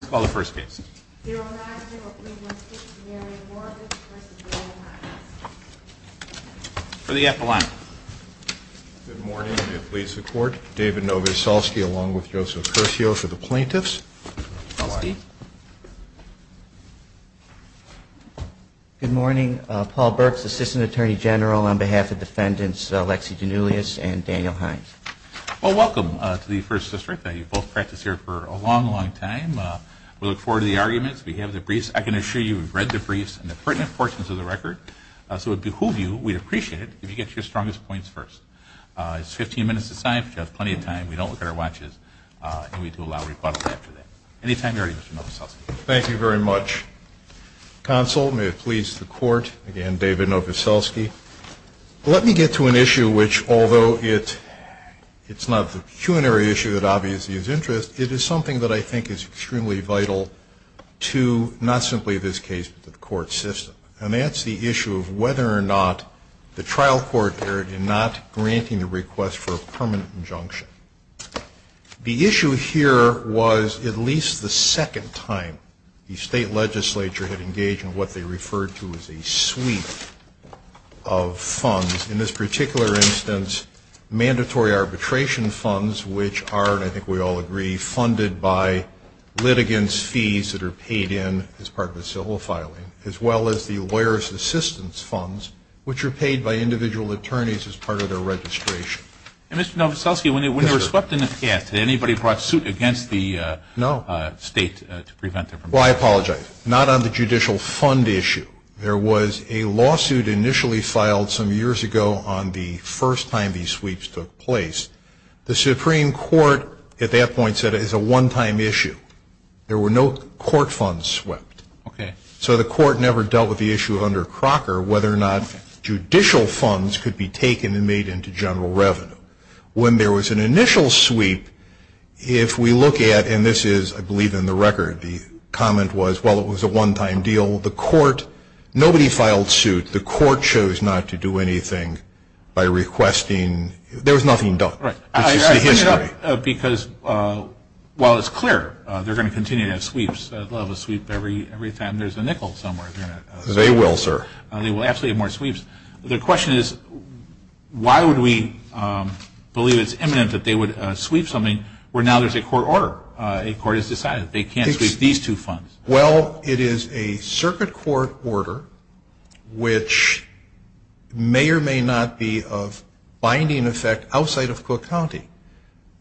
Good morning, Paul Burks, Assistant Attorney General on behalf of Defendants Lexi Giannullis and Daniel Hynes. Well, welcome to the First District. I know you've both practiced here for a long, long time. We look forward to the arguments. We have the briefs. I can assure you we've read the briefs and the pertinent portions of the record, so it would behoove you, we'd appreciate it, if you get your strongest points first. It's 15 minutes to sign, but you have plenty of time. We don't look at our watches, and we do allow rebuttals after that. Any time you're ready, Mr. Novoselsky. Thank you very much. Counsel, may it please the Court, again, David Novoselsky. Let me get to an issue which, although it's not the culinary issue that obviously is of interest, it is something that I think is extremely vital to not simply this case, but the court system. And that's the issue of whether or not the trial court dared in not granting the request for a permanent injunction. The issue here was at least the second time the state legislature had engaged in what they referred to as a suite of funds. In this particular instance, mandatory arbitration funds, which are, and I think we all agree, funded by litigants' fees that are paid in as part of the civil filing, as well as the lawyer's assistance funds, which are paid by individual attorneys as part of their registration. And, Mr. Novoselsky, when they were swept in the past, did anybody brought suit against the state to prevent them from doing that? Well, I apologize. Not on the judicial fund issue. There was a lawsuit initially filed some years ago on the first time these sweeps took place. The Supreme Court at that point said it was a one-time issue. There were no court funds swept. Okay. So the court never dealt with the issue under Crocker whether or not judicial funds could be taken and made into general revenue. When there was an initial sweep, if we look at, and this is, I believe, in the record, the comment was, well, it was a one-time deal. The court, nobody filed suit. The court chose not to do anything by requesting, there was nothing done. Right. I bring it up because while it's clear they're going to continue to have sweeps, they'll have a sweep every time there's a nickel somewhere. They will, sir. They will absolutely have more sweeps. The question is, why would we believe it's imminent that they would sweep something where now there's a court order? A court has decided they can't sweep these two funds. Well, it is a circuit court order which may or may not be of binding effect outside of Cook County.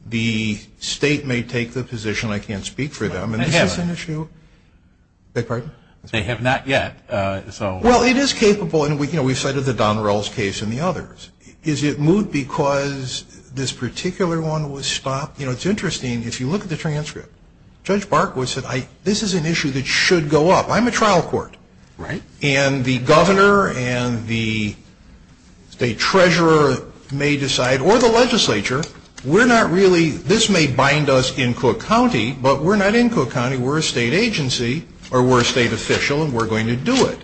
The state may take the position I can't speak for them. They have. Is this an issue? Beg your pardon? They have not yet, so. Well, it is capable, and, you know, we've cited the Donrells case and the others. Is it moot because this particular one was stopped? You know, it's interesting, if you look at the transcript, Judge Barkwood said this is an issue that should go up. I'm a trial court. Right. And the governor and the state treasurer may decide, or the legislature, we're not really, this may bind us in Cook County, but we're not in Cook County, we're a state agency, or we're a state official, and we're going to do it.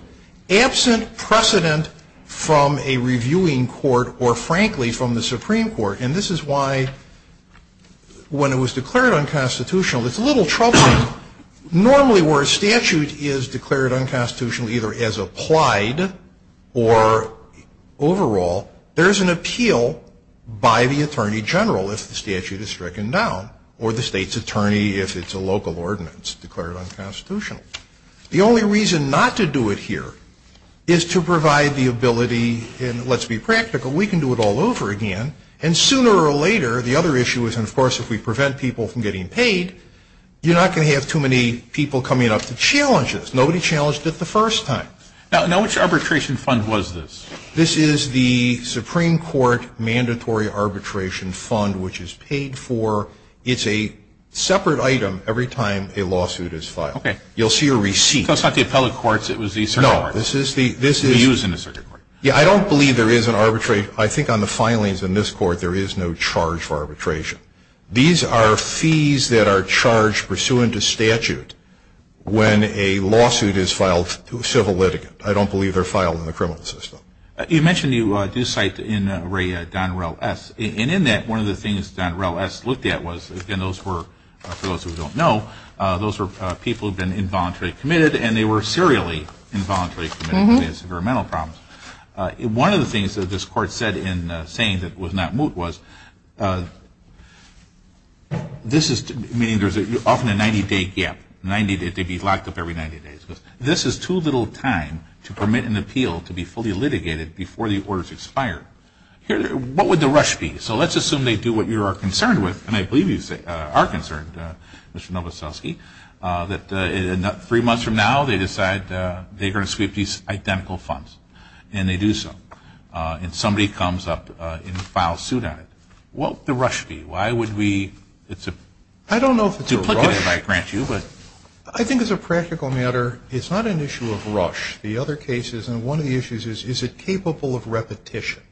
Absent precedent from a reviewing court or, frankly, from the Supreme Court, and this is why when it was declared unconstitutional, it's a little troubling. Normally where a statute is declared unconstitutional, either as applied or overall, there's an appeal by the attorney general if the statute is stricken down, or the state's attorney if it's a local ordinance declared unconstitutional. The only reason not to do it here is to provide the ability, and let's be practical, we can do it all over again, and sooner or later, the other issue is, and, of course, if we prevent people from getting paid, you're not going to have too many people coming up to challenge this. Nobody challenged it the first time. Now, which arbitration fund was this? This is the Supreme Court Mandatory Arbitration Fund, which is paid for. It's a separate item every time a lawsuit is filed. Okay. You'll see a receipt. That's not the appellate courts. It was the circuit court. No. This is the use in the circuit court. Yeah. I don't believe there is an arbitration. I think on the filings in this court, there is no charge for arbitration. These are fees that are charged pursuant to statute when a lawsuit is filed to a civil litigant. I don't believe they're filed in the criminal system. You mentioned you do cite in Ray Donrel S., and in that, one of the things Donrel S. looked at was, again, those were, for those who don't know, those were people who had been involuntarily committed, and they were serially involuntarily committed to severe mental problems. One of the things that this court said in saying that it was not moot was, this is, meaning there's often a 90-day gap. They'd be locked up every 90 days. This is too little time to permit an appeal to be fully litigated before the order is expired. What would the rush be? So let's assume they do what you are concerned with, and I believe you are concerned, Mr. Novoselsky, that three months from now, they decide they're going to sweep these identical funds, and they do so. And somebody comes up and files suit on it. What would the rush be? Why would we? I don't know if it's a rush. Duplicative, I grant you. I think as a practical matter, it's not an issue of rush. The other case is, and one of the issues is, is it capable of repetition?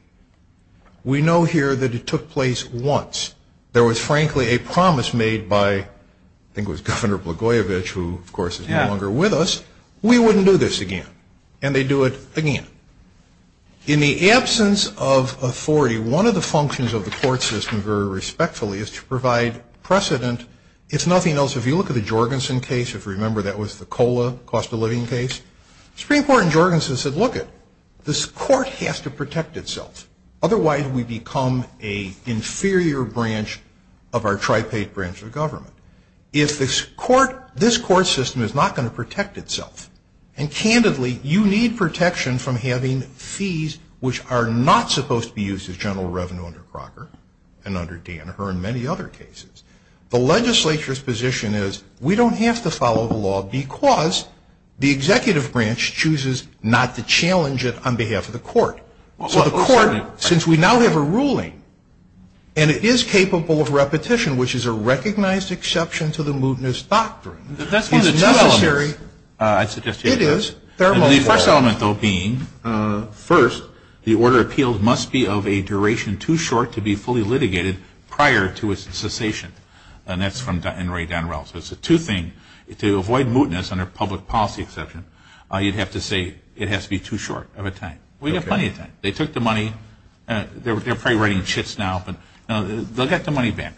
We know here that it took place once. There was, frankly, a promise made by, I think it was Governor Blagojevich, who, of course, is no longer with us. We wouldn't do this again. And they do it again. In the absence of authority, one of the functions of the court system, very respectfully, is to provide precedent. It's nothing else. If you look at the Jorgensen case, if you remember, that was the COLA, cost of living case. Supreme Court in Jorgensen said, look it, this court has to protect itself. Otherwise, we become an inferior branch of our tripaid branch of government. If this court system is not going to protect itself, and candidly, you need protection from having fees which are not supposed to be used as general revenue under Crocker and under Danaher and many other cases. The legislature's position is, we don't have to follow the law because the executive branch chooses not to challenge it on behalf of the court. So the court, since we now have a ruling, and it is capable of repetition, which is a recognized exception to the mootness doctrine, is necessary. That's one of the two elements, I suggest. It is. And the first element, though, being, first, the order of appeals must be of a duration too short for the court to be fully litigated prior to its cessation. And that's from Henry Donrel. So it's a two-thing. To avoid mootness under public policy exception, you'd have to say it has to be too short of a time. We have plenty of time. They took the money. They're probably writing chits now, but they'll get the money back,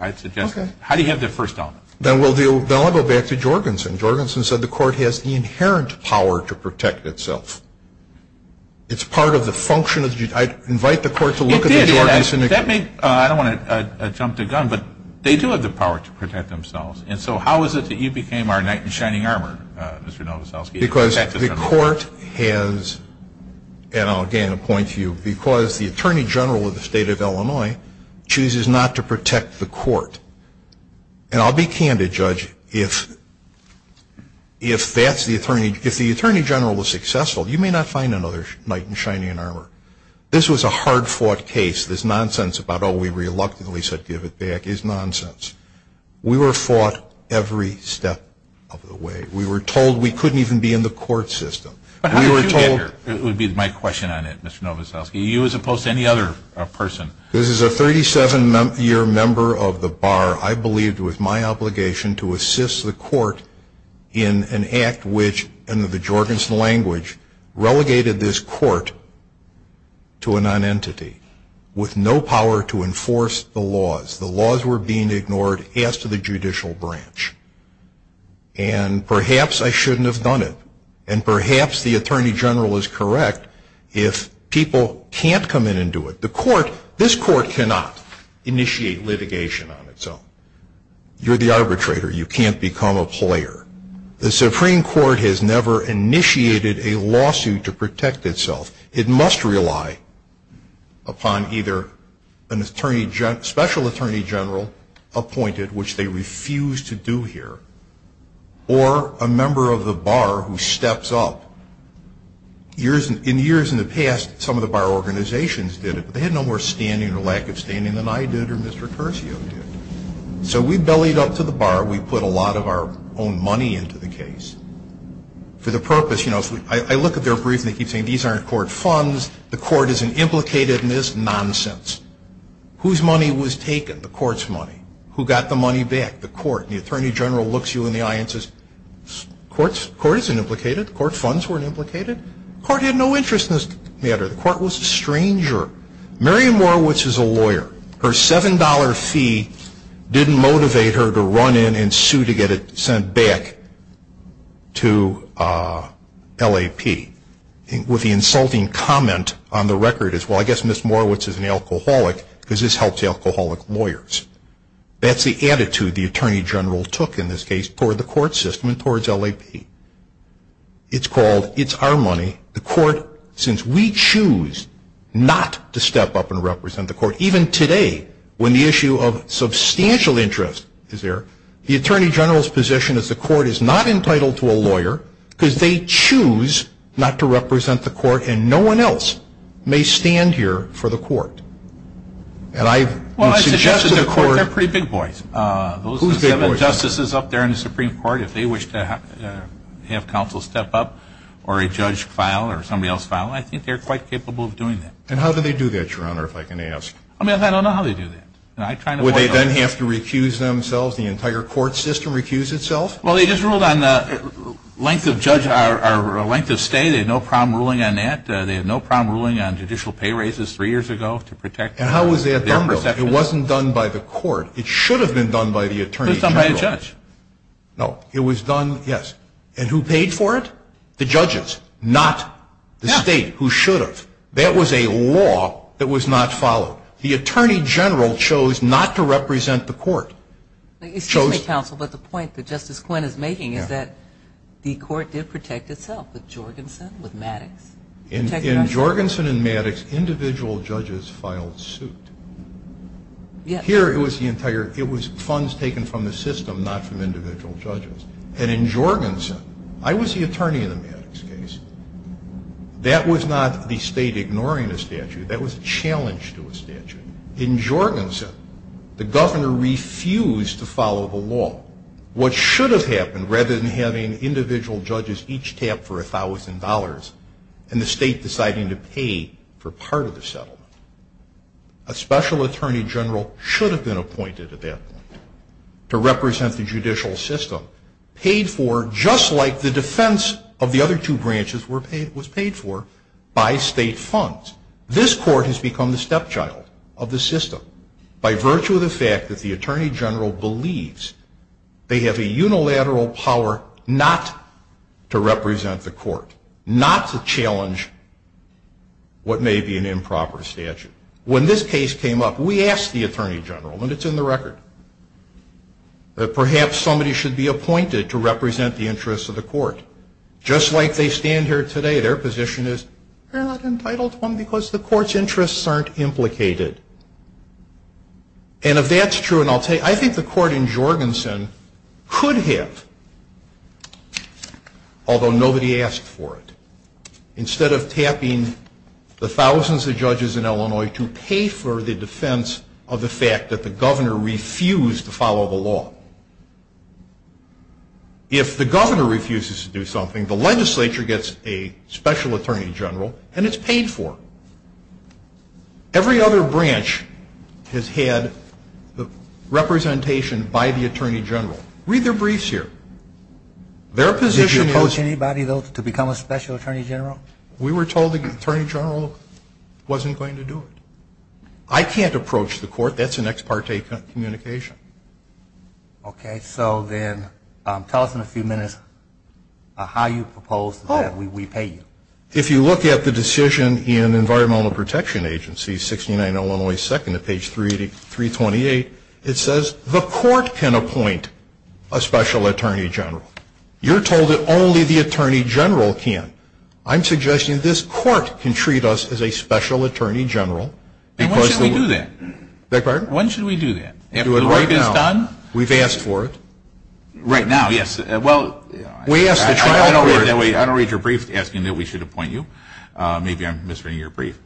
I'd suggest. How do you have the first element? Then I'll go back to Jorgensen. Jorgensen said the court has the inherent power to protect itself. It's part of the function. I'd invite the court to look at the Jorgensen. It did. I don't want to jump the gun, but they do have the power to protect themselves. And so how is it that you became our knight in shining armor, Mr. Novoselsky? Because the court has, and I'll again point to you, because the Attorney General of the State of Illinois chooses not to protect the court. And I'll be candid, Judge, if that's the Attorney General. If the Attorney General is successful, you may not find another knight in shining armor. This was a hard-fought case. This nonsense about, oh, we reluctantly said give it back is nonsense. We were fought every step of the way. We were told we couldn't even be in the court system. But how did you get here would be my question on it, Mr. Novoselsky, you as opposed to any other person. This is a 37-year member of the bar, I believed, with my obligation to assist the court in an act which, in the Jorgensen language, relegated this court to a nonentity with no power to enforce the laws. The laws were being ignored as to the judicial branch. And perhaps I shouldn't have done it. And perhaps the Attorney General is correct if people can't come in and do it. The court, this court cannot initiate litigation on its own. You're the arbitrator. You can't become a player. The Supreme Court has never initiated a lawsuit to protect itself. It must rely upon either a special Attorney General appointed, which they refuse to do here, or a member of the bar who steps up. In years in the past, some of the bar organizations did it, but they had no more standing or lack of standing than I did or Mr. Curcio did. So we bellied up to the bar. We put a lot of our own money into the case for the purpose, you know, I look at their briefs and they keep saying these aren't court funds, the court is an implicated in this nonsense. Whose money was taken? The court's money. Who got the money back? The court. And the Attorney General looks you in the eye and says, the court isn't implicated. The court funds weren't implicated. The court had no interest in this matter. The court was a stranger. Mary Morowitz is a lawyer. Her $7 fee didn't motivate her to run in and sue to get it sent back to LAP. With the insulting comment on the record is, well, I guess Ms. Morowitz is an alcoholic because this helps alcoholic lawyers. That's the attitude the Attorney General took in this case for the court system and towards LAP. It's called, it's our money. The court, since we choose not to step up and represent the court, even today when the issue of substantial interest is there, the Attorney General's position is the court is not entitled to a lawyer because they choose not to represent the court and no one else may stand here for the court. Well, I suggest to the court they're pretty big boys. Who's big boys? Those seven justices up there in the Supreme Court, if they wish to have counsel step up or a judge file or somebody else file, I think they're quite capable of doing that. And how do they do that, Your Honor, if I can ask? I don't know how they do that. Would they then have to recuse themselves, the entire court system recuse itself? Well, they just ruled on the length of judge or length of stay. They had no problem ruling on that. They had no problem ruling on judicial pay raises three years ago to protect their perspective. And how was that done, though? It wasn't done by the court. It should have been done by the Attorney General. It was done by a judge. No, it was done, yes. And who paid for it? The judges, not the state, who should have. That was a law that was not followed. The Attorney General chose not to represent the court. Excuse me, counsel, but the point that Justice Quinn is making is that the court did protect itself with Jorgensen, with Maddox. In Jorgensen and Maddox, individual judges filed suit. Here, it was funds taken from the system, not from individual judges. And in Jorgensen, I was the attorney in the Maddox case. That was not the state ignoring a statute. That was a challenge to a statute. In Jorgensen, the governor refused to follow the law. What should have happened, rather than having individual judges each tap for $1,000 and the state deciding to pay for part of the settlement? A special attorney general should have been appointed at that point to represent the judicial system, paid for just like the defense of the other two branches was paid for by state funds. This court has become the stepchild of the system, by virtue of the fact that the Attorney General believes they have a not to challenge what may be an improper statute. When this case came up, we asked the Attorney General, and it's in the record, that perhaps somebody should be appointed to represent the interests of the court. Just like they stand here today, their position is, you're not entitled to one because the court's interests aren't implicated. And if that's true, and I'll tell you, I think the court in Jorgensen could have, although nobody asked for it, instead of tapping the thousands of judges in Illinois to pay for the defense of the fact that the governor refused to follow the law. If the governor refuses to do something, the legislature gets a special attorney general, and it's paid for. Every other branch has had representation by the Attorney General. Read their briefs here. Did you approach anybody, though, to become a special attorney general? We were told the Attorney General wasn't going to do it. I can't approach the court. That's an ex parte communication. Okay. So then tell us in a few minutes how you propose that we pay you. If you look at the decision in Environmental Protection Agency, page 328, it says the court can appoint a special attorney general. You're told that only the Attorney General can. I'm suggesting this court can treat us as a special attorney general. And when should we do that? Beg your pardon? When should we do that? Do it right now. If the work is done? We've asked for it. Right now, yes. Well, I don't read your brief asking that we should appoint you. Maybe I'm misreading your brief.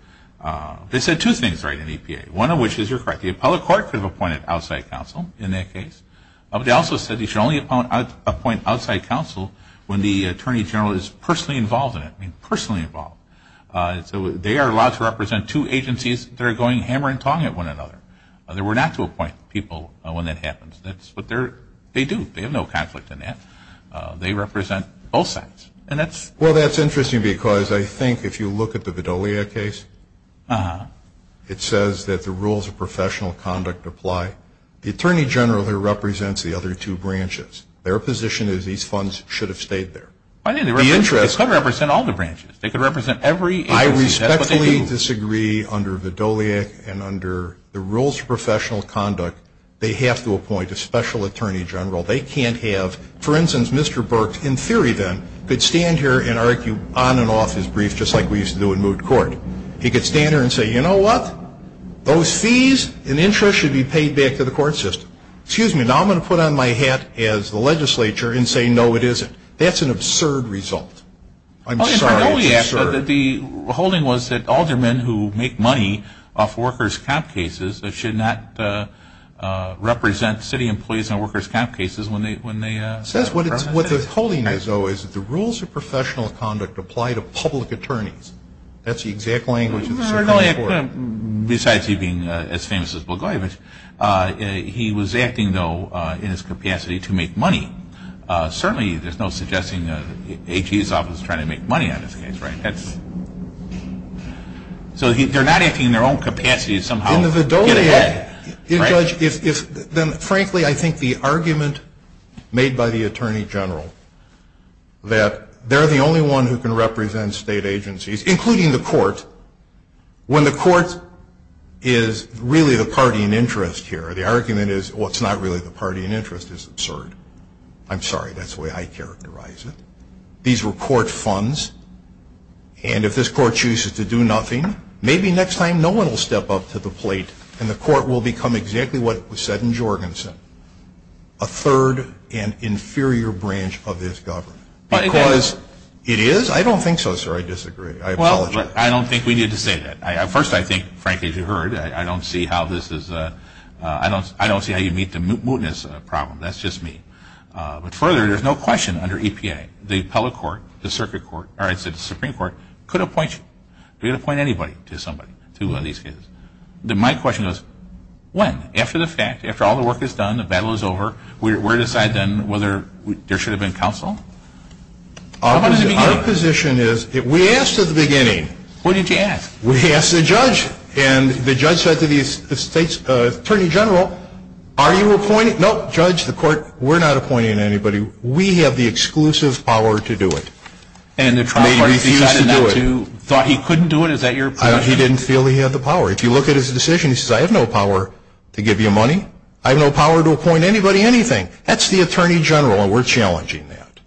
They said two things right in EPA, one of which is you're correct. The appellate court could have appointed outside counsel in that case. They also said you should only appoint outside counsel when the Attorney General is personally involved in it, I mean personally involved. So they are allowed to represent two agencies that are going hammer and tong at one another. They were not to appoint people when that happens. That's what they do. They have no conflict in that. They represent both sides. Well, that's interesting because I think if you look at the Vidolia case, it says that the rules of professional conduct apply. The Attorney General there represents the other two branches. Their position is these funds should have stayed there. They could represent all the branches. They could represent every agency. That's what they do. I respectfully disagree under Vidolia and under the rules of professional conduct. They have to appoint a special attorney general. They can't have, for instance, Mr. Burke, in theory then, could stand here and argue on and off his brief just like we used to do in moot court. He could stand here and say, you know what? Those fees and interest should be paid back to the court system. Excuse me, now I'm going to put on my hat as the legislature and say, no, it isn't. That's an absurd result. I'm sorry, it's absurd. The holding was that aldermen who make money off workers' comp cases should not represent city employees in workers' comp cases. It says what the holding is, though, is that the rules of professional conduct apply to public attorneys. That's the exact language of the Supreme Court. Besides he being as famous as Blagojevich, he was acting, though, in his capacity to make money. Certainly there's no suggesting the AG's office is trying to make money on this case, right? So they're not acting in their own capacity to somehow get ahead. Frankly, I think the argument made by the Attorney General that they're the only one who can represent state agencies, including the court, when the court is really the party in interest here, the argument is, well, it's not really the party in interest is absurd. I'm sorry, that's the way I characterize it. These were court funds, and if this court chooses to do nothing, maybe next time no one will step up to the plate and the court will become exactly what was said in Jorgensen, a third and inferior branch of this government. Because it is? I don't think so, sir. I disagree. I apologize. Well, I don't think we need to say that. First, I think, frankly, as you heard, I don't see how this is, I don't see how you meet the mootness problem. That's just me. But further, there's no question under EPA, the appellate court, the circuit court, or I should say the Supreme Court, could appoint you. They could appoint anybody to somebody, to these cases. My question is, when? After the fact, after all the work is done, the battle is over, we're to decide then whether there should have been counsel? Our position is, we asked at the beginning. What did you ask? We asked the judge, and the judge said to the Attorney General, are you appointing? No, judge, the court, we're not appointing anybody. We have the exclusive power to do it. And the trial parties decided not to, thought he couldn't do it? Is that your position? He didn't feel he had the power. If you look at his decision, he says, I have no power to give you money. I have no power to appoint anybody, anything. That's the Attorney General, and we're challenging that.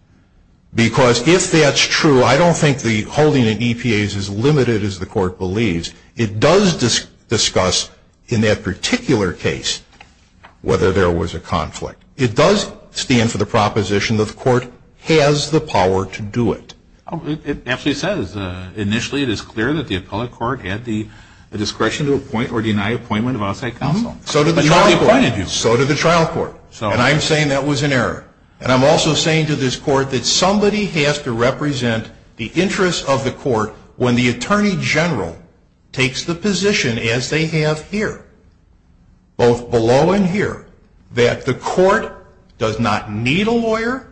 Because if that's true, I don't think the holding in EPA is as limited as the court believes. It does discuss, in that particular case, whether there was a conflict. It does stand for the proposition that the court has the power to do it. It actually says, initially, it is clear that the appellate court had the discretion to appoint or deny appointment of outside counsel. So did the trial court. But nobody appointed you. So did the trial court. And I'm saying that was an error. And I'm also saying to this court that somebody has to represent the interests of the court when the Attorney General takes the position, as they have here, both below and here, that the court does not need a lawyer,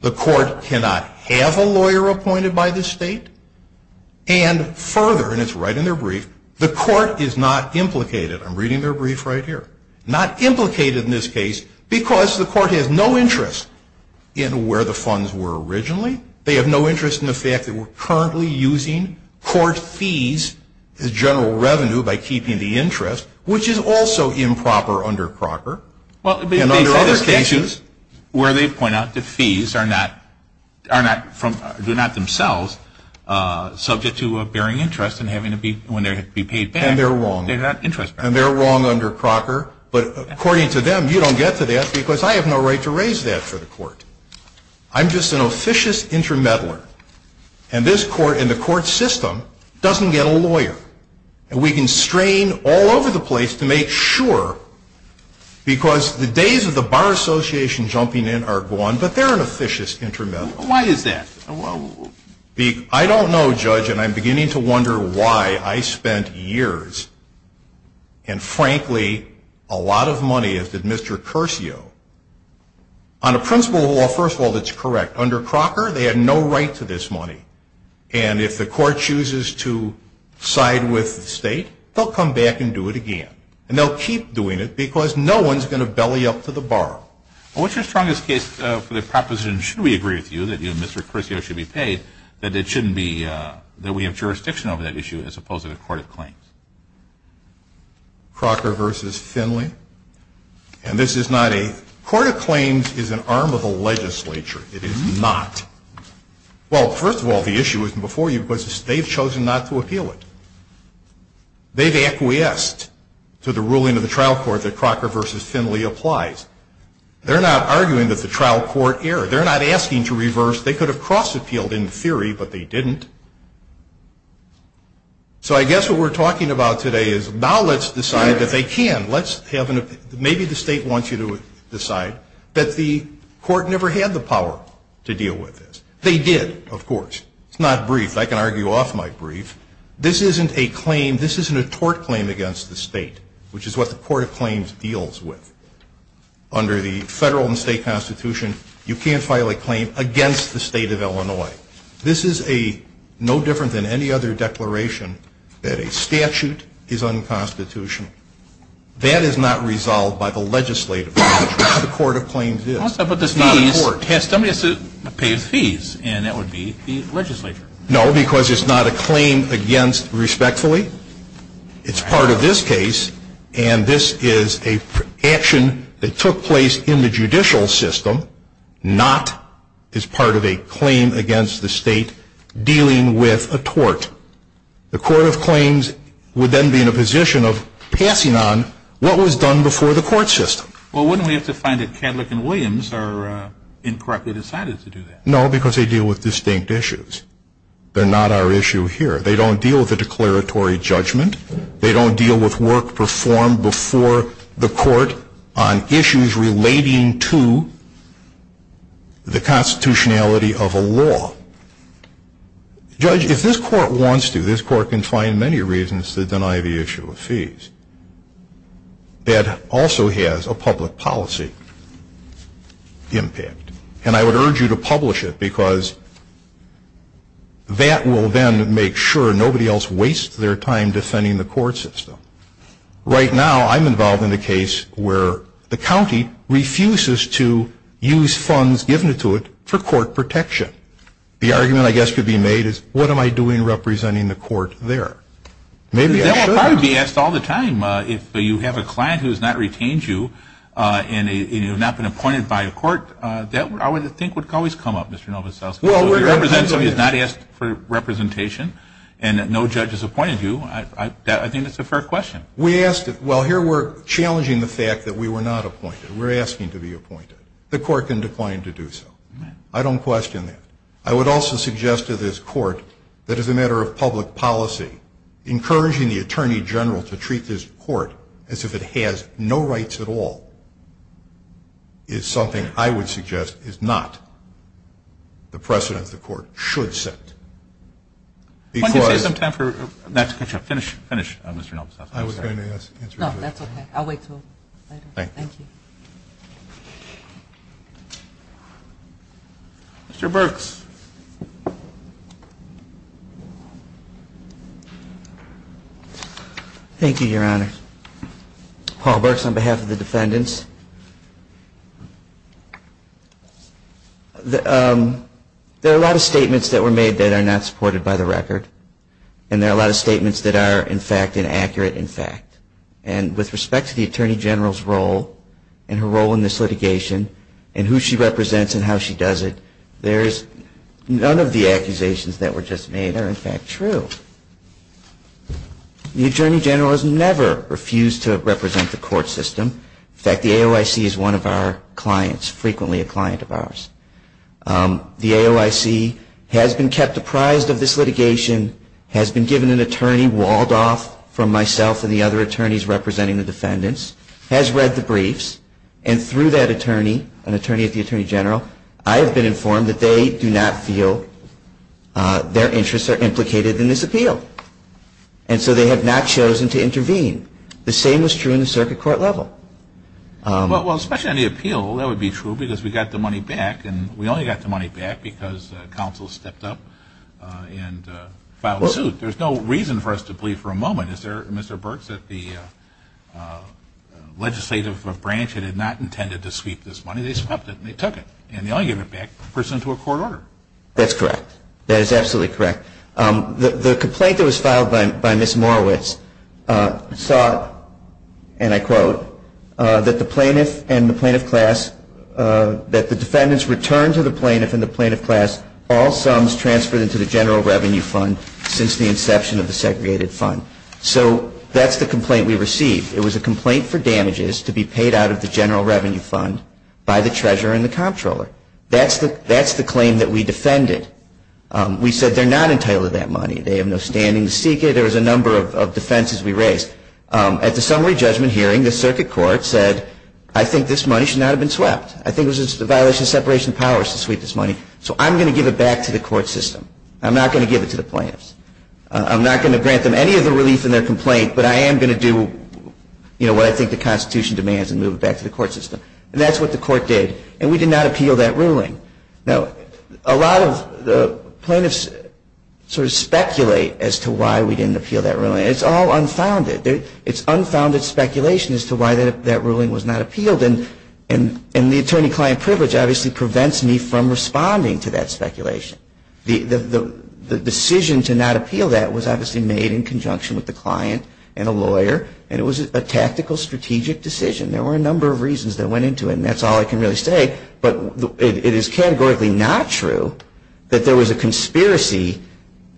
the court cannot have a lawyer appointed by the state, and further, and it's right in their brief, the court is not implicated. I'm reading their brief right here. Not implicated in this case because the court has no interest in where the funds were originally. They have no interest in the fact that we're currently using court fees as general revenue by keeping the interest, which is also improper under Crocker. And under other cases where they point out the fees are not from, do not themselves subject to bearing interest and having to be, when they're to be paid back. And they're wrong. And they're wrong under Crocker. But according to them, you don't get to that because I have no right to raise that for the court. I'm just an officious intermeddler. And this court and the court system doesn't get a lawyer. And we can strain all over the place to make sure, because the days of the Bar Association jumping in are gone, but they're an officious intermeddler. Why is that? I don't know, Judge, and I'm beginning to wonder why I spent years, and frankly, a lot of money, as did Mr. Curcio, on a principle of law, first of all, that's correct. Under Crocker, they had no right to this money. And if the court chooses to side with the state, they'll come back and do it again. And they'll keep doing it because no one's going to belly up to the bar. What's your strongest case for the proposition, should we agree with you, that you and Mr. Curcio should be paid, that it shouldn't be, that we have jurisdiction over that issue as opposed to the court of claims? Crocker v. Finley. Okay. And this is not a – court of claims is an arm of the legislature. It is not. Well, first of all, the issue isn't before you because they've chosen not to appeal it. They've acquiesced to the ruling of the trial court that Crocker v. Finley applies. They're not arguing that the trial court erred. They're not asking to reverse. They could have cross-appealed in theory, but they didn't. So I guess what we're talking about today is now let's decide that they can. Let's have an – maybe the state wants you to decide that the court never had the power to deal with this. They did, of course. It's not brief. I can argue off my brief. This isn't a claim – this isn't a tort claim against the state, which is what the court of claims deals with. Under the federal and state constitution, you can't file a claim against the state of Illinois. This is no different than any other declaration that a statute is unconstitutional. That is not resolved by the legislature. That's what the court of claims is. But somebody has to pay his fees, and that would be the legislature. No, because it's not a claim against respectfully. It's part of this case, and this is an action that took place in the judicial system, not as part of a claim against the state dealing with a tort. The court of claims would then be in a position of passing on what was done before the court system. Well, wouldn't we have to find that Cadillac and Williams are incorrectly decided to do that? No, because they deal with distinct issues. They're not our issue here. They don't deal with a declaratory judgment. They don't deal with work performed before the court on issues relating to the constitutionality of a law. Judge, if this court wants to, this court can find many reasons to deny the issue of fees. That also has a public policy impact, and I would urge you to publish it, because that will then make sure nobody else wastes their time defending the court system. Right now, I'm involved in a case where the county refuses to use funds given to it for court protection. The argument, I guess, could be made is, what am I doing representing the court there? Maybe I should. That would probably be asked all the time. If you have a client who has not retained you and you have not been appointed by the court, that, I would think, would always come up, Mr. Novoselsky. If you represent somebody who has not asked for representation and no judge has appointed you, I think that's a fair question. We asked it. Well, here we're challenging the fact that we were not appointed. We're asking to be appointed. The court can decline to do so. I don't question that. I would also suggest to this court that as a matter of public policy, encouraging the attorney general to treat this court as if it has no rights at all is something I would suggest is not the precedence the court should set. Why don't you take some time to finish, Mr. Novoselsky. I was going to answer your question. No, that's okay. I'll wait until later. Thank you. Mr. Burks. Thank you, Your Honor. Paul Burks on behalf of the defendants. There are a lot of statements that were made that are not supported by the record. And there are a lot of statements that are, in fact, inaccurate, in fact. And with respect to the attorney general's role and her role in this litigation and who she represents and how she does it, none of the accusations that were just made are, in fact, true. The attorney general has never refused to represent the court system. In fact, the AOIC is one of our clients, frequently a client of ours. The AOIC has been kept apprised of this litigation, has been given an attorney walled off from myself and the other attorneys representing the defendants, has read the briefs. And through that attorney, an attorney at the attorney general, I have been informed that they do not feel their interests are implicated in this appeal. And so they have not chosen to intervene. The same was true in the circuit court level. Well, especially on the appeal, that would be true because we got the money back. And we only got the money back because counsel stepped up and filed suit. There's no reason for us to believe for a moment, is there, Mr. Burks, that the legislative branch had not intended to sweep this money. They swept it and they took it. And they only gave it back to a person to a court order. That's correct. That is absolutely correct. The complaint that was filed by Ms. Morowitz saw, and I quote, that the plaintiff and the plaintiff class, that the defendants returned to the plaintiff and the plaintiff class all sums transferred into the general revenue fund since the inception of the segregated fund. So that's the complaint we received. It was a complaint for damages to be paid out of the general revenue fund by the treasurer and the comptroller. That's the claim that we defended. We said they're not entitled to that money. They have no standing to seek it. There was a number of defenses we raised. At the summary judgment hearing, the circuit court said, I think this money should not have been swept. I think it was a violation of separation of powers to sweep this money. So I'm going to give it back to the court system. I'm not going to give it to the plaintiffs. I'm not going to grant them any of the relief in their complaint, but I am going to do, you know, what I think the Constitution demands and move it back to the court system. And that's what the court did. And we did not appeal that ruling. Now, a lot of the plaintiffs sort of speculate as to why we didn't appeal that ruling. It's all unfounded. It's unfounded speculation as to why that ruling was not appealed. And the attorney-client privilege obviously prevents me from responding to that speculation. The decision to not appeal that was obviously made in conjunction with the client and a lawyer, and it was a tactical, strategic decision. There were a number of reasons that went into it, and that's all I can really say. But it is categorically not true that there was a conspiracy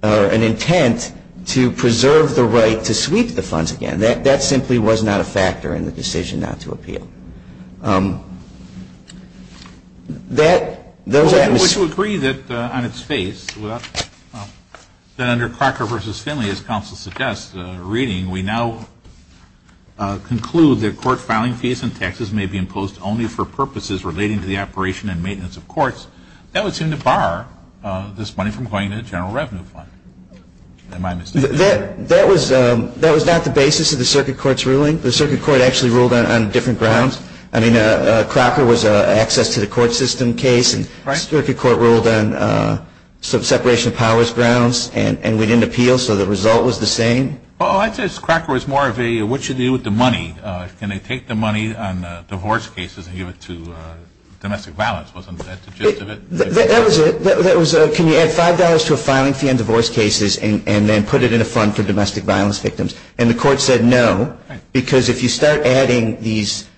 or an intent to preserve the right to sweep the funds again. That simply was not a factor in the decision not to appeal. That, those atmospheres. Would you agree that on its face, that under Crocker v. Finley, as counsel suggests, reading, we now conclude that court filing fees and taxes may be imposed only for purposes relating to the operation and maintenance of courts, that would seem to bar this money from going to the general revenue fund. Am I mistaken? That was not the basis of the circuit court's ruling. The circuit court actually ruled on different grounds. I mean, Crocker was an access-to-the-court-system case, and the circuit court ruled on separation of powers grounds. And we didn't appeal, so the result was the same? Well, I'd say Crocker was more of a, what's your deal with the money? Can they take the money on divorce cases and give it to domestic violence? Wasn't that the gist of it? That was it. Can you add $5 to a filing fee on divorce cases and then put it in a fund for domestic violence victims? And the court said no, because if you start adding these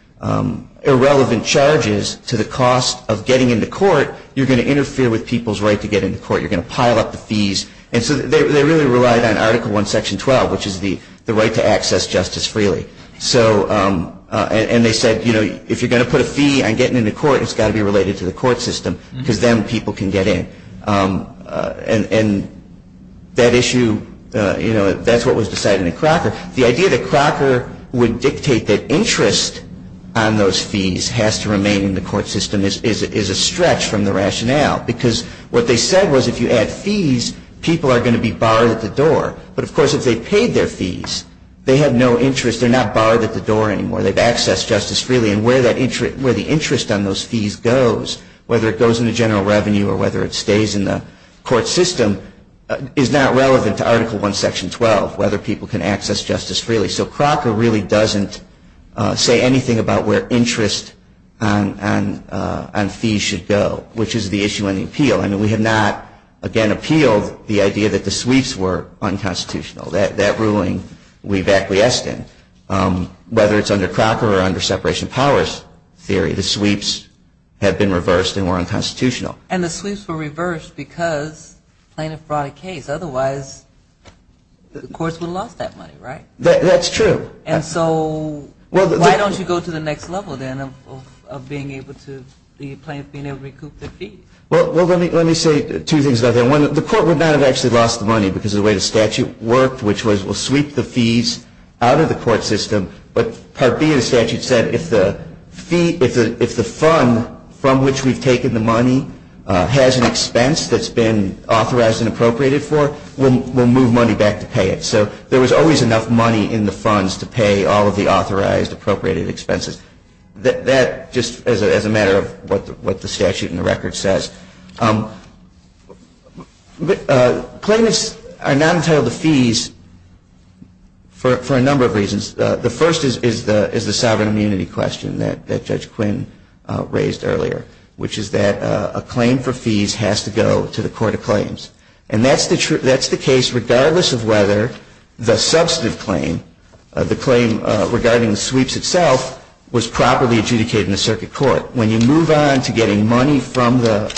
irrelevant charges to the cost of getting into court, you're going to interfere with people's right to get into court. You're going to pile up the fees. And so they really relied on Article 1, Section 12, which is the right to access justice freely. And they said, you know, if you're going to put a fee on getting into court, it's got to be related to the court system because then people can get in. And that issue, you know, that's what was decided in Crocker. The idea that Crocker would dictate that interest on those fees has to remain in the court system is a stretch from the rationale because what they said was if you add fees, people are going to be barred at the door. But, of course, if they paid their fees, they have no interest. They're not barred at the door anymore. They've accessed justice freely. And where the interest on those fees goes, whether it goes into general revenue or whether it stays in the court system, is not relevant to Article 1, Section 12, whether people can access justice freely. So Crocker really doesn't say anything about where interest on fees should go, which is the issue in the appeal. I mean, we have not, again, appealed the idea that the sweeps were unconstitutional. That ruling we've acquiesced in. Whether it's under Crocker or under separation of powers theory, the sweeps have been reversed and were unconstitutional. And the sweeps were reversed because plaintiff brought a case. Otherwise, the courts would have lost that money, right? That's true. And so why don't you go to the next level, then, of being able to recoup the fees? Well, let me say two things about that. One, the court would not have actually lost the money because of the way the statute worked, which was we'll sweep the fees out of the court system. But Part B of the statute said if the fund from which we've taken the money has an expense that's been authorized and appropriated for, we'll move money back to pay it. So there was always enough money in the funds to pay all of the authorized appropriated expenses. That just as a matter of what the statute and the record says. Claimants are not entitled to fees for a number of reasons. The first is the sovereign immunity question that Judge Quinn raised earlier, which is that a claim for fees has to go to the Court of Claims. And that's the case regardless of whether the substantive claim, the claim regarding the sweeps itself, was properly adjudicated in the circuit court. When you move on to getting money from the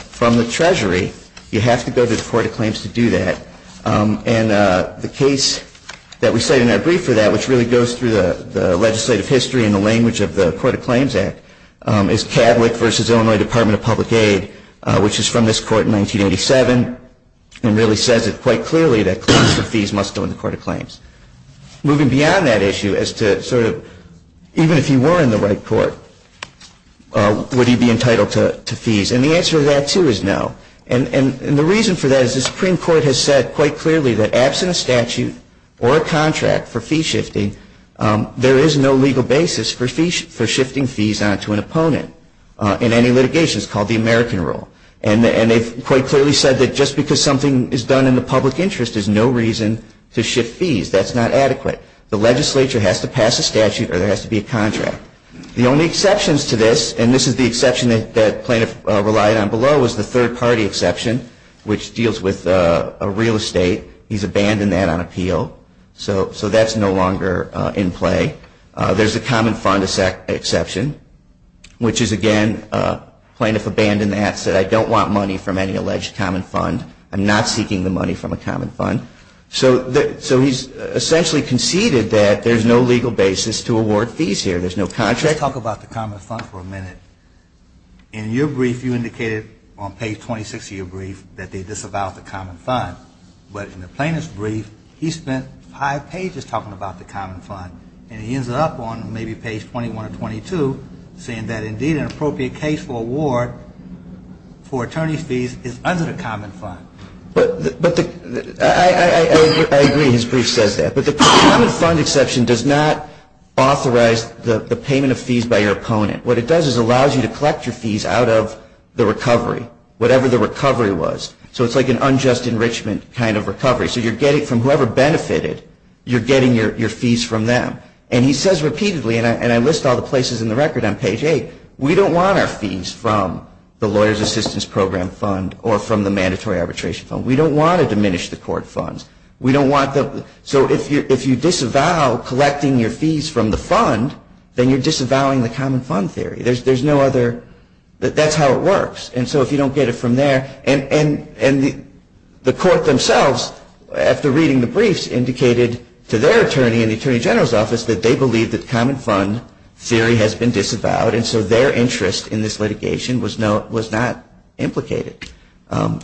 Treasury, you have to go to the Court of Claims to do that. And the case that we cite in our brief for that, which really goes through the legislative history and the language of the Court of Claims Act, is Catholic versus Illinois Department of Public Aid, which is from this court in 1987 and really says it quite clearly that claims for fees must go to the Court of Claims. Moving beyond that issue as to sort of even if you were in the right court, would you be entitled to fees? And the answer to that, too, is no. And the reason for that is the Supreme Court has said quite clearly that absent a statute or a contract for fee shifting, there is no legal basis for shifting fees onto an opponent in any litigation. It's called the American rule. And they've quite clearly said that just because something is done in the public interest, there's no reason to shift fees. That's not adequate. The legislature has to pass a statute or there has to be a contract. The only exceptions to this, and this is the exception that Plaintiff relied on below, is the third-party exception, which deals with real estate. He's abandoned that on appeal. So that's no longer in play. There's a common fund exception, which is, again, Plaintiff abandoned that, said, I don't want money from any alleged common fund. I'm not seeking the money from a common fund. So he's essentially conceded that there's no legal basis to award fees here. There's no contract. Let's talk about the common fund for a minute. In your brief, you indicated on page 26 of your brief that they disavowed the common fund. But in the plaintiff's brief, he spent five pages talking about the common fund, and he ends up on maybe page 21 or 22 saying that, indeed, an appropriate case for award for attorney's fees is under the common fund. I agree. His brief says that. But the common fund exception does not authorize the payment of fees by your opponent. What it does is allows you to collect your fees out of the recovery, whatever the recovery was. So it's like an unjust enrichment kind of recovery. So you're getting from whoever benefited, you're getting your fees from them. And he says repeatedly, and I list all the places in the record on page 8, we don't want our fees from the lawyer's assistance program fund or from the mandatory arbitration fund. We don't want to diminish the court funds. So if you disavow collecting your fees from the fund, then you're disavowing the common fund theory. That's how it works. And so if you don't get it from there, and the court themselves, after reading the briefs, indicated to their attorney in the attorney general's office that they believe that common fund theory has been disavowed, and so their interest in this litigation was not implicated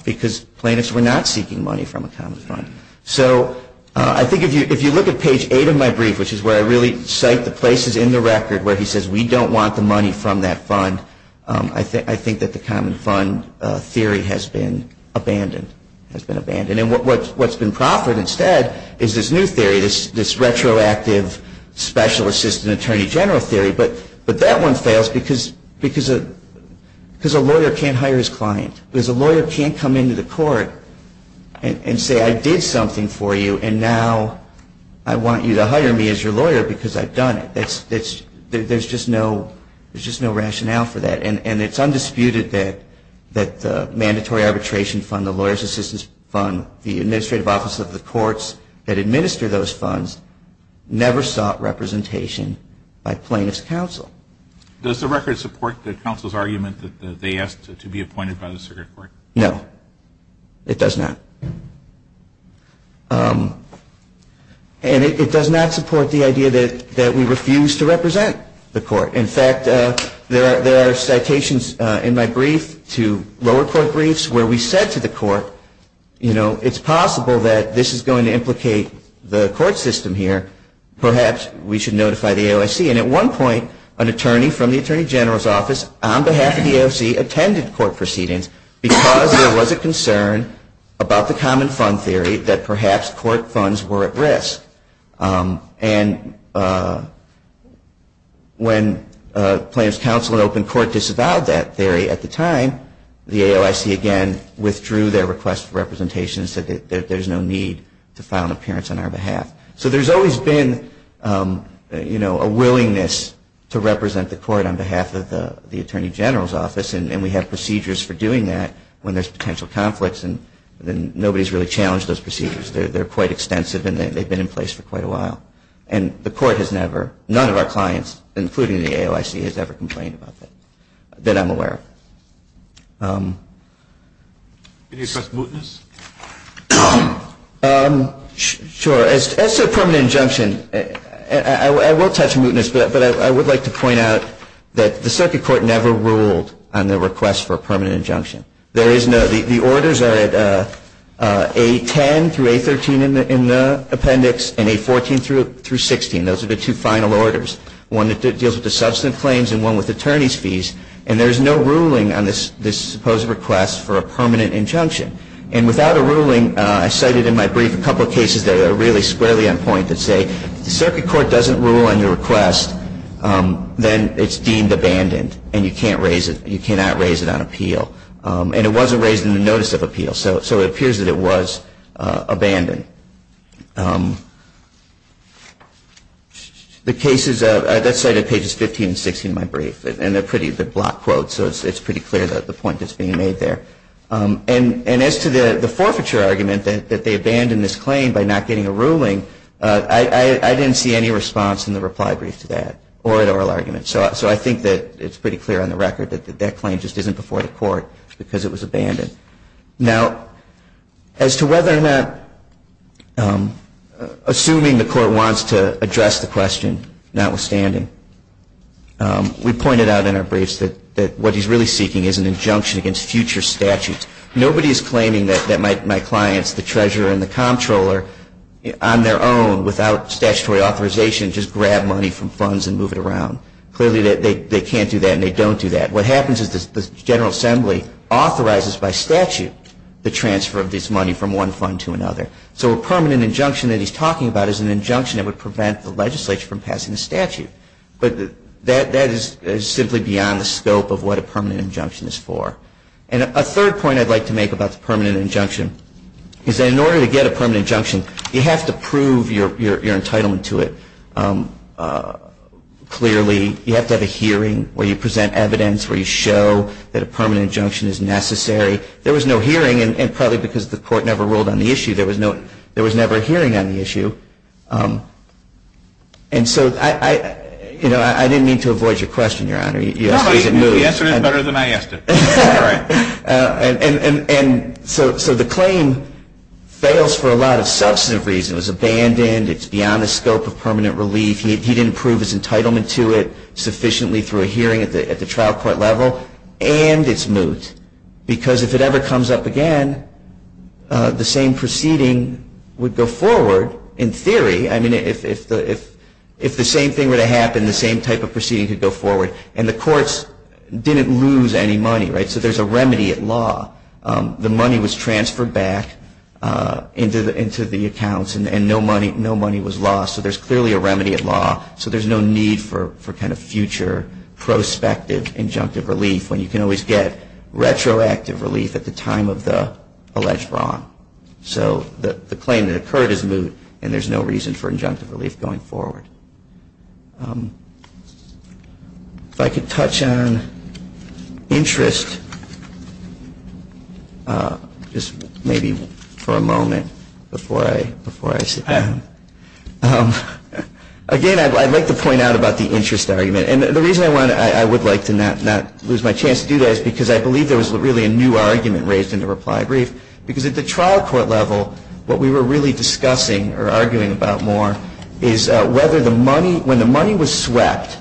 because plaintiffs were not seeking money from a common fund. So I think if you look at page 8 of my brief, which is where I really cite the places in the record where he says we don't want the money from that fund, I think that the common fund theory has been abandoned. And what's been proffered instead is this new theory, this retroactive special assistant attorney general theory. But that one fails because a lawyer can't hire his client. Because a lawyer can't come into the court and say I did something for you, and now I want you to hire me as your lawyer because I've done it. There's just no rationale for that. And it's undisputed that the mandatory arbitration fund, the lawyer's assistance fund, the administrative office of the courts that administer those funds never sought representation by plaintiff's counsel. Does the record support the counsel's argument that they asked to be appointed by the circuit court? No. It does not. And it does not support the idea that we refuse to represent the court. In fact, there are citations in my brief to lower court briefs where we said to the court, you know, it's possible that this is going to implicate the court system here. Perhaps we should notify the AOSC. And at one point, an attorney from the attorney general's office, on behalf of the AOSC, attended court proceedings because there was a concern about the common fund theory that perhaps court funds were at risk. And when plaintiff's counsel at open court disavowed that theory at the time, the AOSC again withdrew their request for representation and said there's no need to file an appearance on our behalf. So there's always been, you know, a willingness to represent the court on behalf of the attorney general's office. And we have procedures for doing that when there's potential conflicts. And nobody's really challenged those procedures. They're quite extensive. And they've been in place for quite a while. And the court has never, none of our clients, including the AOSC, has ever complained about that, that I'm aware of. Can you address mootness? Sure. As to a permanent injunction, I will touch mootness. But I would like to point out that the circuit court never ruled on the request for a permanent injunction. There is no, the orders are at A10 through A13 in the appendix and A14 through 16. Those are the two final orders, one that deals with the substantive claims and one with attorney's fees. And there's no ruling on this supposed request for a permanent injunction. And without a ruling, I cited in my brief a couple of cases that are really squarely on point that say, if the circuit court doesn't rule on your request, then it's deemed abandoned. And you can't raise it, you cannot raise it on appeal. And it wasn't raised in the notice of appeal. So it appears that it was abandoned. The cases, that's cited at pages 15 and 16 of my brief. And they're pretty, they're block quotes, so it's pretty clear that the point that's being made there. And as to the forfeiture argument, that they abandoned this claim by not getting a ruling, I didn't see any response in the reply brief to that or an oral argument. So I think that it's pretty clear on the record that that claim just isn't before the court because it was abandoned. Now, as to whether or not, assuming the court wants to address the question, notwithstanding, we pointed out in our briefs that what he's really seeking is an injunction against future statutes. Nobody is claiming that my clients, the treasurer and the comptroller, on their own, without statutory authorization, just grab money from funds and move it around. Clearly they can't do that and they don't do that. What happens is the General Assembly authorizes by statute the transfer of this money from one fund to another. So a permanent injunction that he's talking about is an injunction that would prevent the legislature from passing a statute. But that is simply beyond the scope of what a permanent injunction is for. And a third point I'd like to make about the permanent injunction is that in order to get a permanent injunction, you have to prove your entitlement to it clearly. You have to have a hearing where you present evidence, where you show that a permanent injunction is necessary. There was no hearing, and probably because the court never ruled on the issue, there was never a hearing on the issue. And so I didn't mean to avoid your question, Your Honor. The answer is better than I asked it. And so the claim fails for a lot of substantive reasons. It was abandoned. It's beyond the scope of permanent relief. He didn't prove his entitlement to it sufficiently through a hearing at the trial court level. And it's moot. Because if it ever comes up again, the same proceeding would go forward in theory. I mean, if the same thing were to happen, the same type of proceeding could go forward. And the courts didn't lose any money, right? So there's a remedy at law. The money was transferred back into the accounts, and no money was lost. So there's clearly a remedy at law. So there's no need for kind of future prospective injunctive relief when you can always get retroactive relief at the time of the alleged wrong. So the claim that occurred is moot, and there's no reason for injunctive relief going forward. If I could touch on interest, just maybe for a moment before I sit down. Again, I'd like to point out about the interest argument. And the reason I would like to not lose my chance to do that is because I believe there was really a new argument raised in the reply brief. Because at the trial court level, what we were really discussing or arguing about more is whether the money, when the money was swept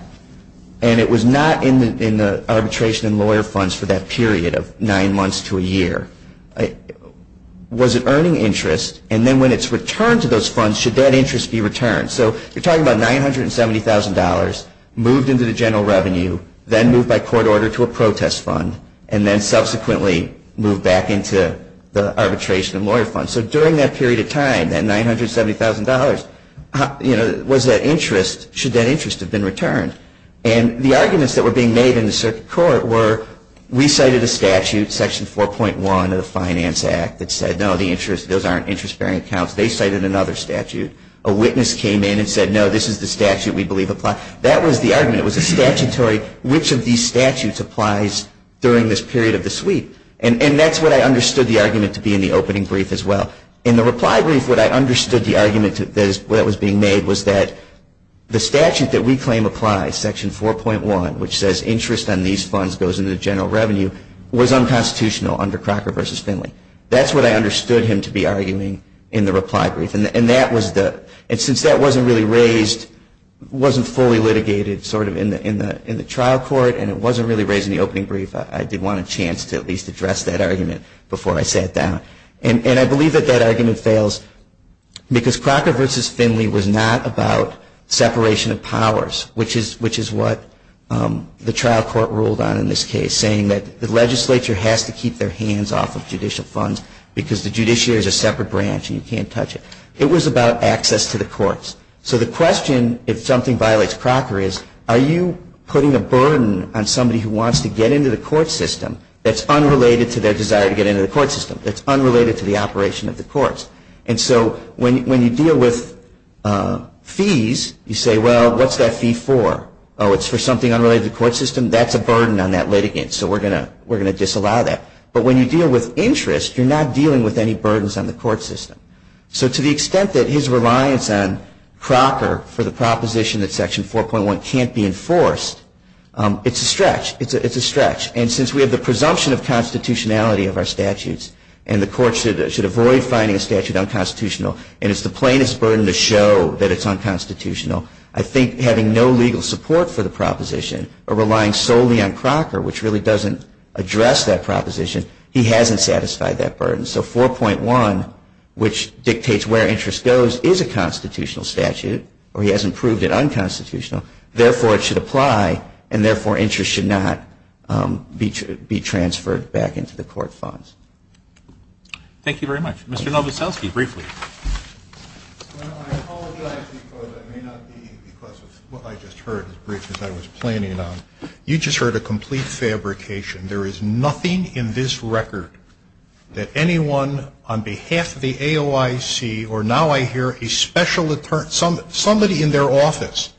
and it was not in the arbitration and lawyer funds for that period of nine months to a year, was it earning interest? And then when it's returned to those funds, should that interest be returned? So you're talking about $970,000 moved into the general revenue, then moved by court order to a protest fund, and then subsequently moved back into the arbitration and lawyer funds. So during that period of time, that $970,000, was that interest, should that interest have been returned? And the arguments that were being made in the circuit court were we cited a statute, Section 4.1 of the Finance Act, that said, no, those aren't interest-bearing accounts. They cited another statute. A witness came in and said, no, this is the statute we believe applies. That was the argument. It was a statutory, which of these statutes applies during this period of the sweep? And that's what I understood the argument to be in the opening brief as well. In the reply brief, what I understood the argument that was being made was that the statute that we claim applies, Section 4.1, which says interest on these funds goes into the general revenue, was unconstitutional under Crocker v. Finley. That's what I understood him to be arguing in the reply brief. And since that wasn't really raised, wasn't fully litigated sort of in the trial court, and it wasn't really raised in the opening brief, I did want a chance to at least address that argument before I sat down. And I believe that that argument fails because Crocker v. Finley was not about separation of powers, which is what the trial court ruled on in this case, saying that the legislature has to keep their hands off of judicial funds because the judiciary is a separate branch and you can't touch it. It was about access to the courts. So the question, if something violates Crocker, is are you putting a burden on somebody who wants to get into the court system that's unrelated to their desire to get into the court system, that's unrelated to the operation of the courts? And so when you deal with fees, you say, well, what's that fee for? Oh, it's for something unrelated to the court system? That's a burden on that litigant, so we're going to disallow that. But when you deal with interest, you're not dealing with any burdens on the court system. So to the extent that his reliance on Crocker for the proposition that Section 4.1 can't be enforced, it's a stretch. And since we have the presumption of constitutionality of our statutes and the court should avoid finding a statute unconstitutional and it's the plainest burden to show that it's unconstitutional, I think having no legal support for the proposition or relying solely on Crocker, which really doesn't address that proposition, he hasn't satisfied that burden. So 4.1, which dictates where interest goes, is a constitutional statute, or he hasn't proved it unconstitutional. Therefore, it should apply, and therefore, interest should not be transferred back into the court funds. Thank you very much. Mr. Novoselsky, briefly. Well, I apologize because I may not be, because of what I just heard, as brief as I was planning on. You just heard a complete fabrication. There is nothing in this record that anyone on behalf of the AOIC, or now I hear a special attorney, somebody in their office,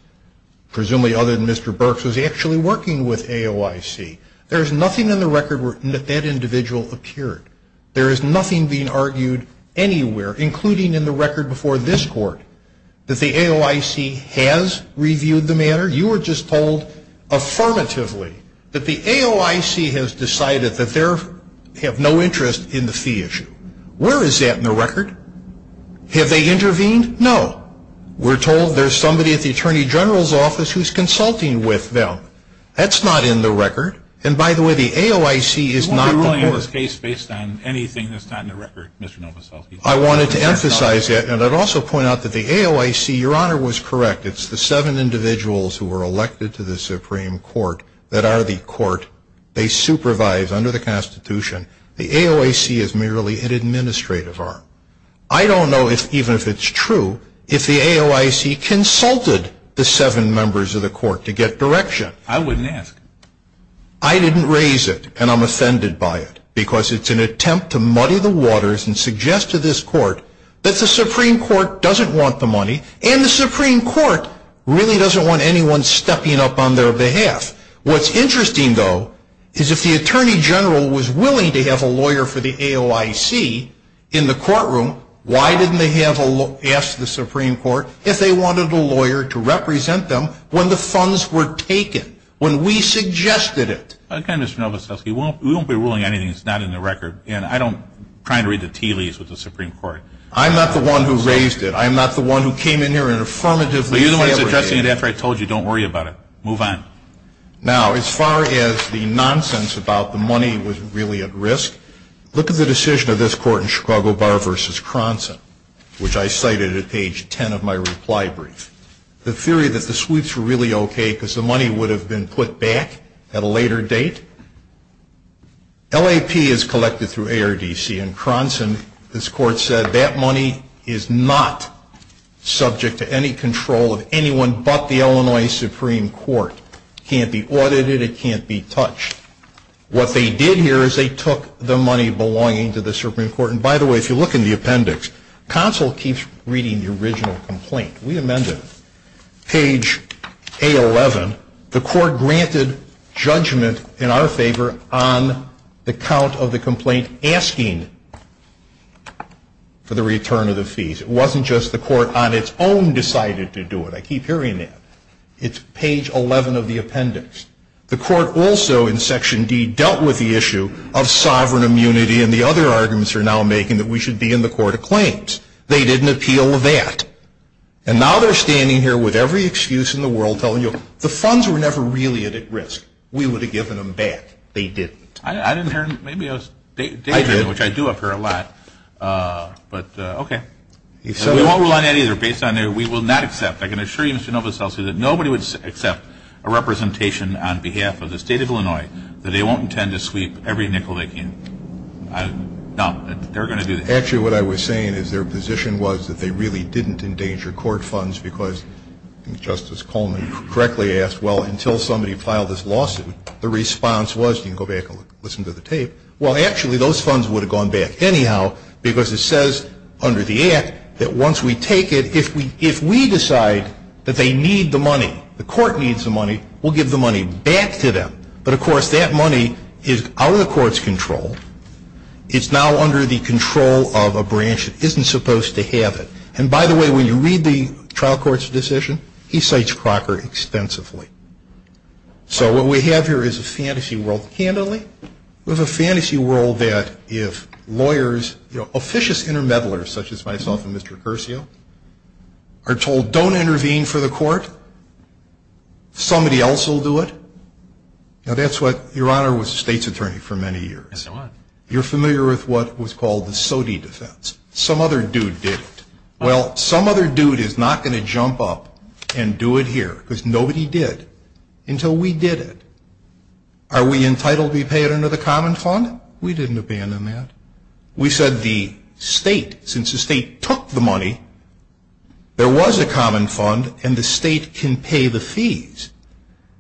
presumably other than Mr. Burks, was actually working with AOIC. There is nothing in the record that that individual appeared. There is nothing being argued anywhere, including in the record before this court, that the AOIC has reviewed the matter. You were just told affirmatively that the AOIC has decided that they have no interest in the fee issue. Where is that in the record? Have they intervened? No. We're told there's somebody at the Attorney General's office who's consulting with them. That's not in the record. And by the way, the AOIC is not the court. You won't be ruling on this case based on anything that's not in the record, Mr. Novoselsky. I wanted to emphasize that, and I'd also point out that the AOIC, Your Honor, was correct. It's the seven individuals who were elected to the Supreme Court that are the court. They supervise under the Constitution. The AOIC is merely an administrative arm. I don't know, even if it's true, if the AOIC consulted the seven members of the court to get direction. I wouldn't ask. I didn't raise it, and I'm offended by it, because it's an attempt to muddy the waters and suggest to this court that the Supreme Court doesn't want the money, and the Supreme Court really doesn't want anyone stepping up on their behalf. What's interesting, though, is if the Attorney General was willing to have a lawyer for the AOIC in the courtroom, why didn't they ask the Supreme Court if they wanted a lawyer to represent them when the funds were taken, when we suggested it? Again, Mr. Novoselsky, we won't be ruling on anything that's not in the record, and I don't try to read the tea leaves with the Supreme Court. I'm not the one who raised it. I'm not the one who came in here and affirmatively fabricated it. You've seen it after I told you. Don't worry about it. Move on. Now, as far as the nonsense about the money was really at risk, look at the decision of this court in Chicago Bar v. Cronson, which I cited at page 10 of my reply brief. The theory that the Swedes were really okay because the money would have been put back at a later date. LAP is collected through ARDC, and Cronson, this court said, that money is not subject to any control of anyone but the Illinois Supreme Court. It can't be audited. It can't be touched. What they did here is they took the money belonging to the Supreme Court, and by the way, if you look in the appendix, counsel keeps reading the original complaint. We amended it. Page A11, the court granted judgment in our favor on the count of the complaint asking for the return of the fees. It wasn't just the court on its own decided to do it. I keep hearing that. It's page 11 of the appendix. The court also in section D dealt with the issue of sovereign immunity, and the other arguments are now making that we should be in the court of claims. They didn't appeal that. And now they're standing here with every excuse in the world telling you, the funds were never really at risk. We would have given them back. They didn't. I didn't hear them. Maybe I was daydreaming, which I do up here a lot, but okay. We won't rely on that either. Based on that, we will not accept. I can assure you, Mr. Novoseltsev, that nobody would accept a representation on behalf of the state of Illinois that they won't intend to sweep every nickel they can. No, they're going to do that. Actually, what I was saying is their position was that they really didn't endanger court funds because Justice Coleman correctly asked, well, until somebody filed this lawsuit, the response was, you can go back and listen to the tape. Well, actually, those funds would have gone back anyhow because it says under the Act that once we take it, if we decide that they need the money, the court needs the money, we'll give the money back to them. But, of course, that money is out of the court's control. It's now under the control of a branch that isn't supposed to have it. And, by the way, when you read the trial court's decision, he cites Crocker extensively. So what we have here is a fantasy world. Candidly, we have a fantasy world that if lawyers, you know, officious intermedialers such as myself and Mr. Curcio, are told don't intervene for the court, somebody else will do it. Now, that's what your honor was the state's attorney for many years. You're familiar with what was called the SOTI defense. Some other dude did it. Well, some other dude is not going to jump up and do it here because nobody did until we did it. Are we entitled to be paid under the common fund? We didn't abandon that. We said the state, since the state took the money, there was a common fund and the state can pay the fees.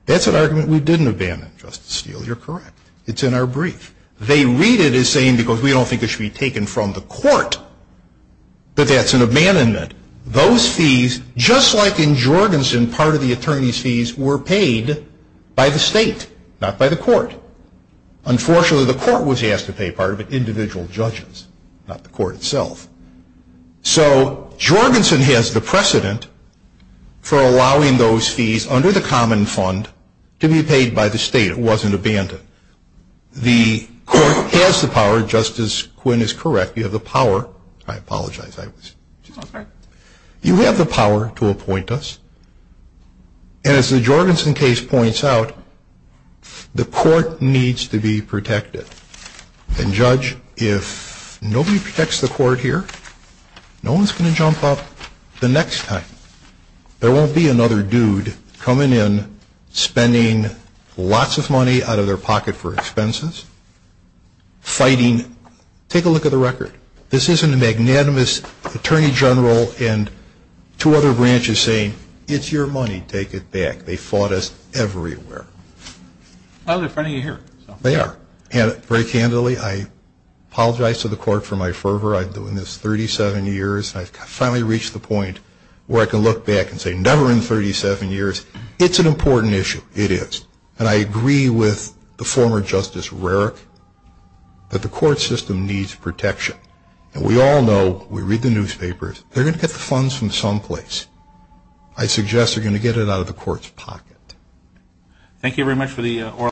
That's an argument we didn't abandon, Justice Steele. You're correct. It's in our brief. They read it as saying because we don't think it should be taken from the court, but that's an abandonment. Those fees, just like in Jorgensen, part of the attorney's fees were paid by the state, not by the court. Unfortunately, the court was asked to pay part of it, individual judges, not the court itself. So Jorgensen has the precedent for allowing those fees under the common fund to be paid by the state. It wasn't abandoned. The court has the power, Justice Quinn is correct, you have the power. I apologize. You have the power to appoint us. And as the Jorgensen case points out, the court needs to be protected. And, Judge, if nobody protects the court here, no one's going to jump up the next time. There won't be another dude coming in, spending lots of money out of their pocket for expenses, fighting. Take a look at the record. This isn't a magnanimous attorney general and two other branches saying, it's your money, take it back. They fought us everywhere. Well, they're in front of you here. They are. And very candidly, I apologize to the court for my fervor. I've been doing this 37 years. I've finally reached the point where I can look back and say, never in 37 years. It's an important issue. It is. And I agree with the former Justice Rarick that the court system needs protection. And we all know, we read the newspapers, they're going to get the funds from someplace. I suggest they're going to get it out of the court's pocket. Thank you very much for the oral testimony.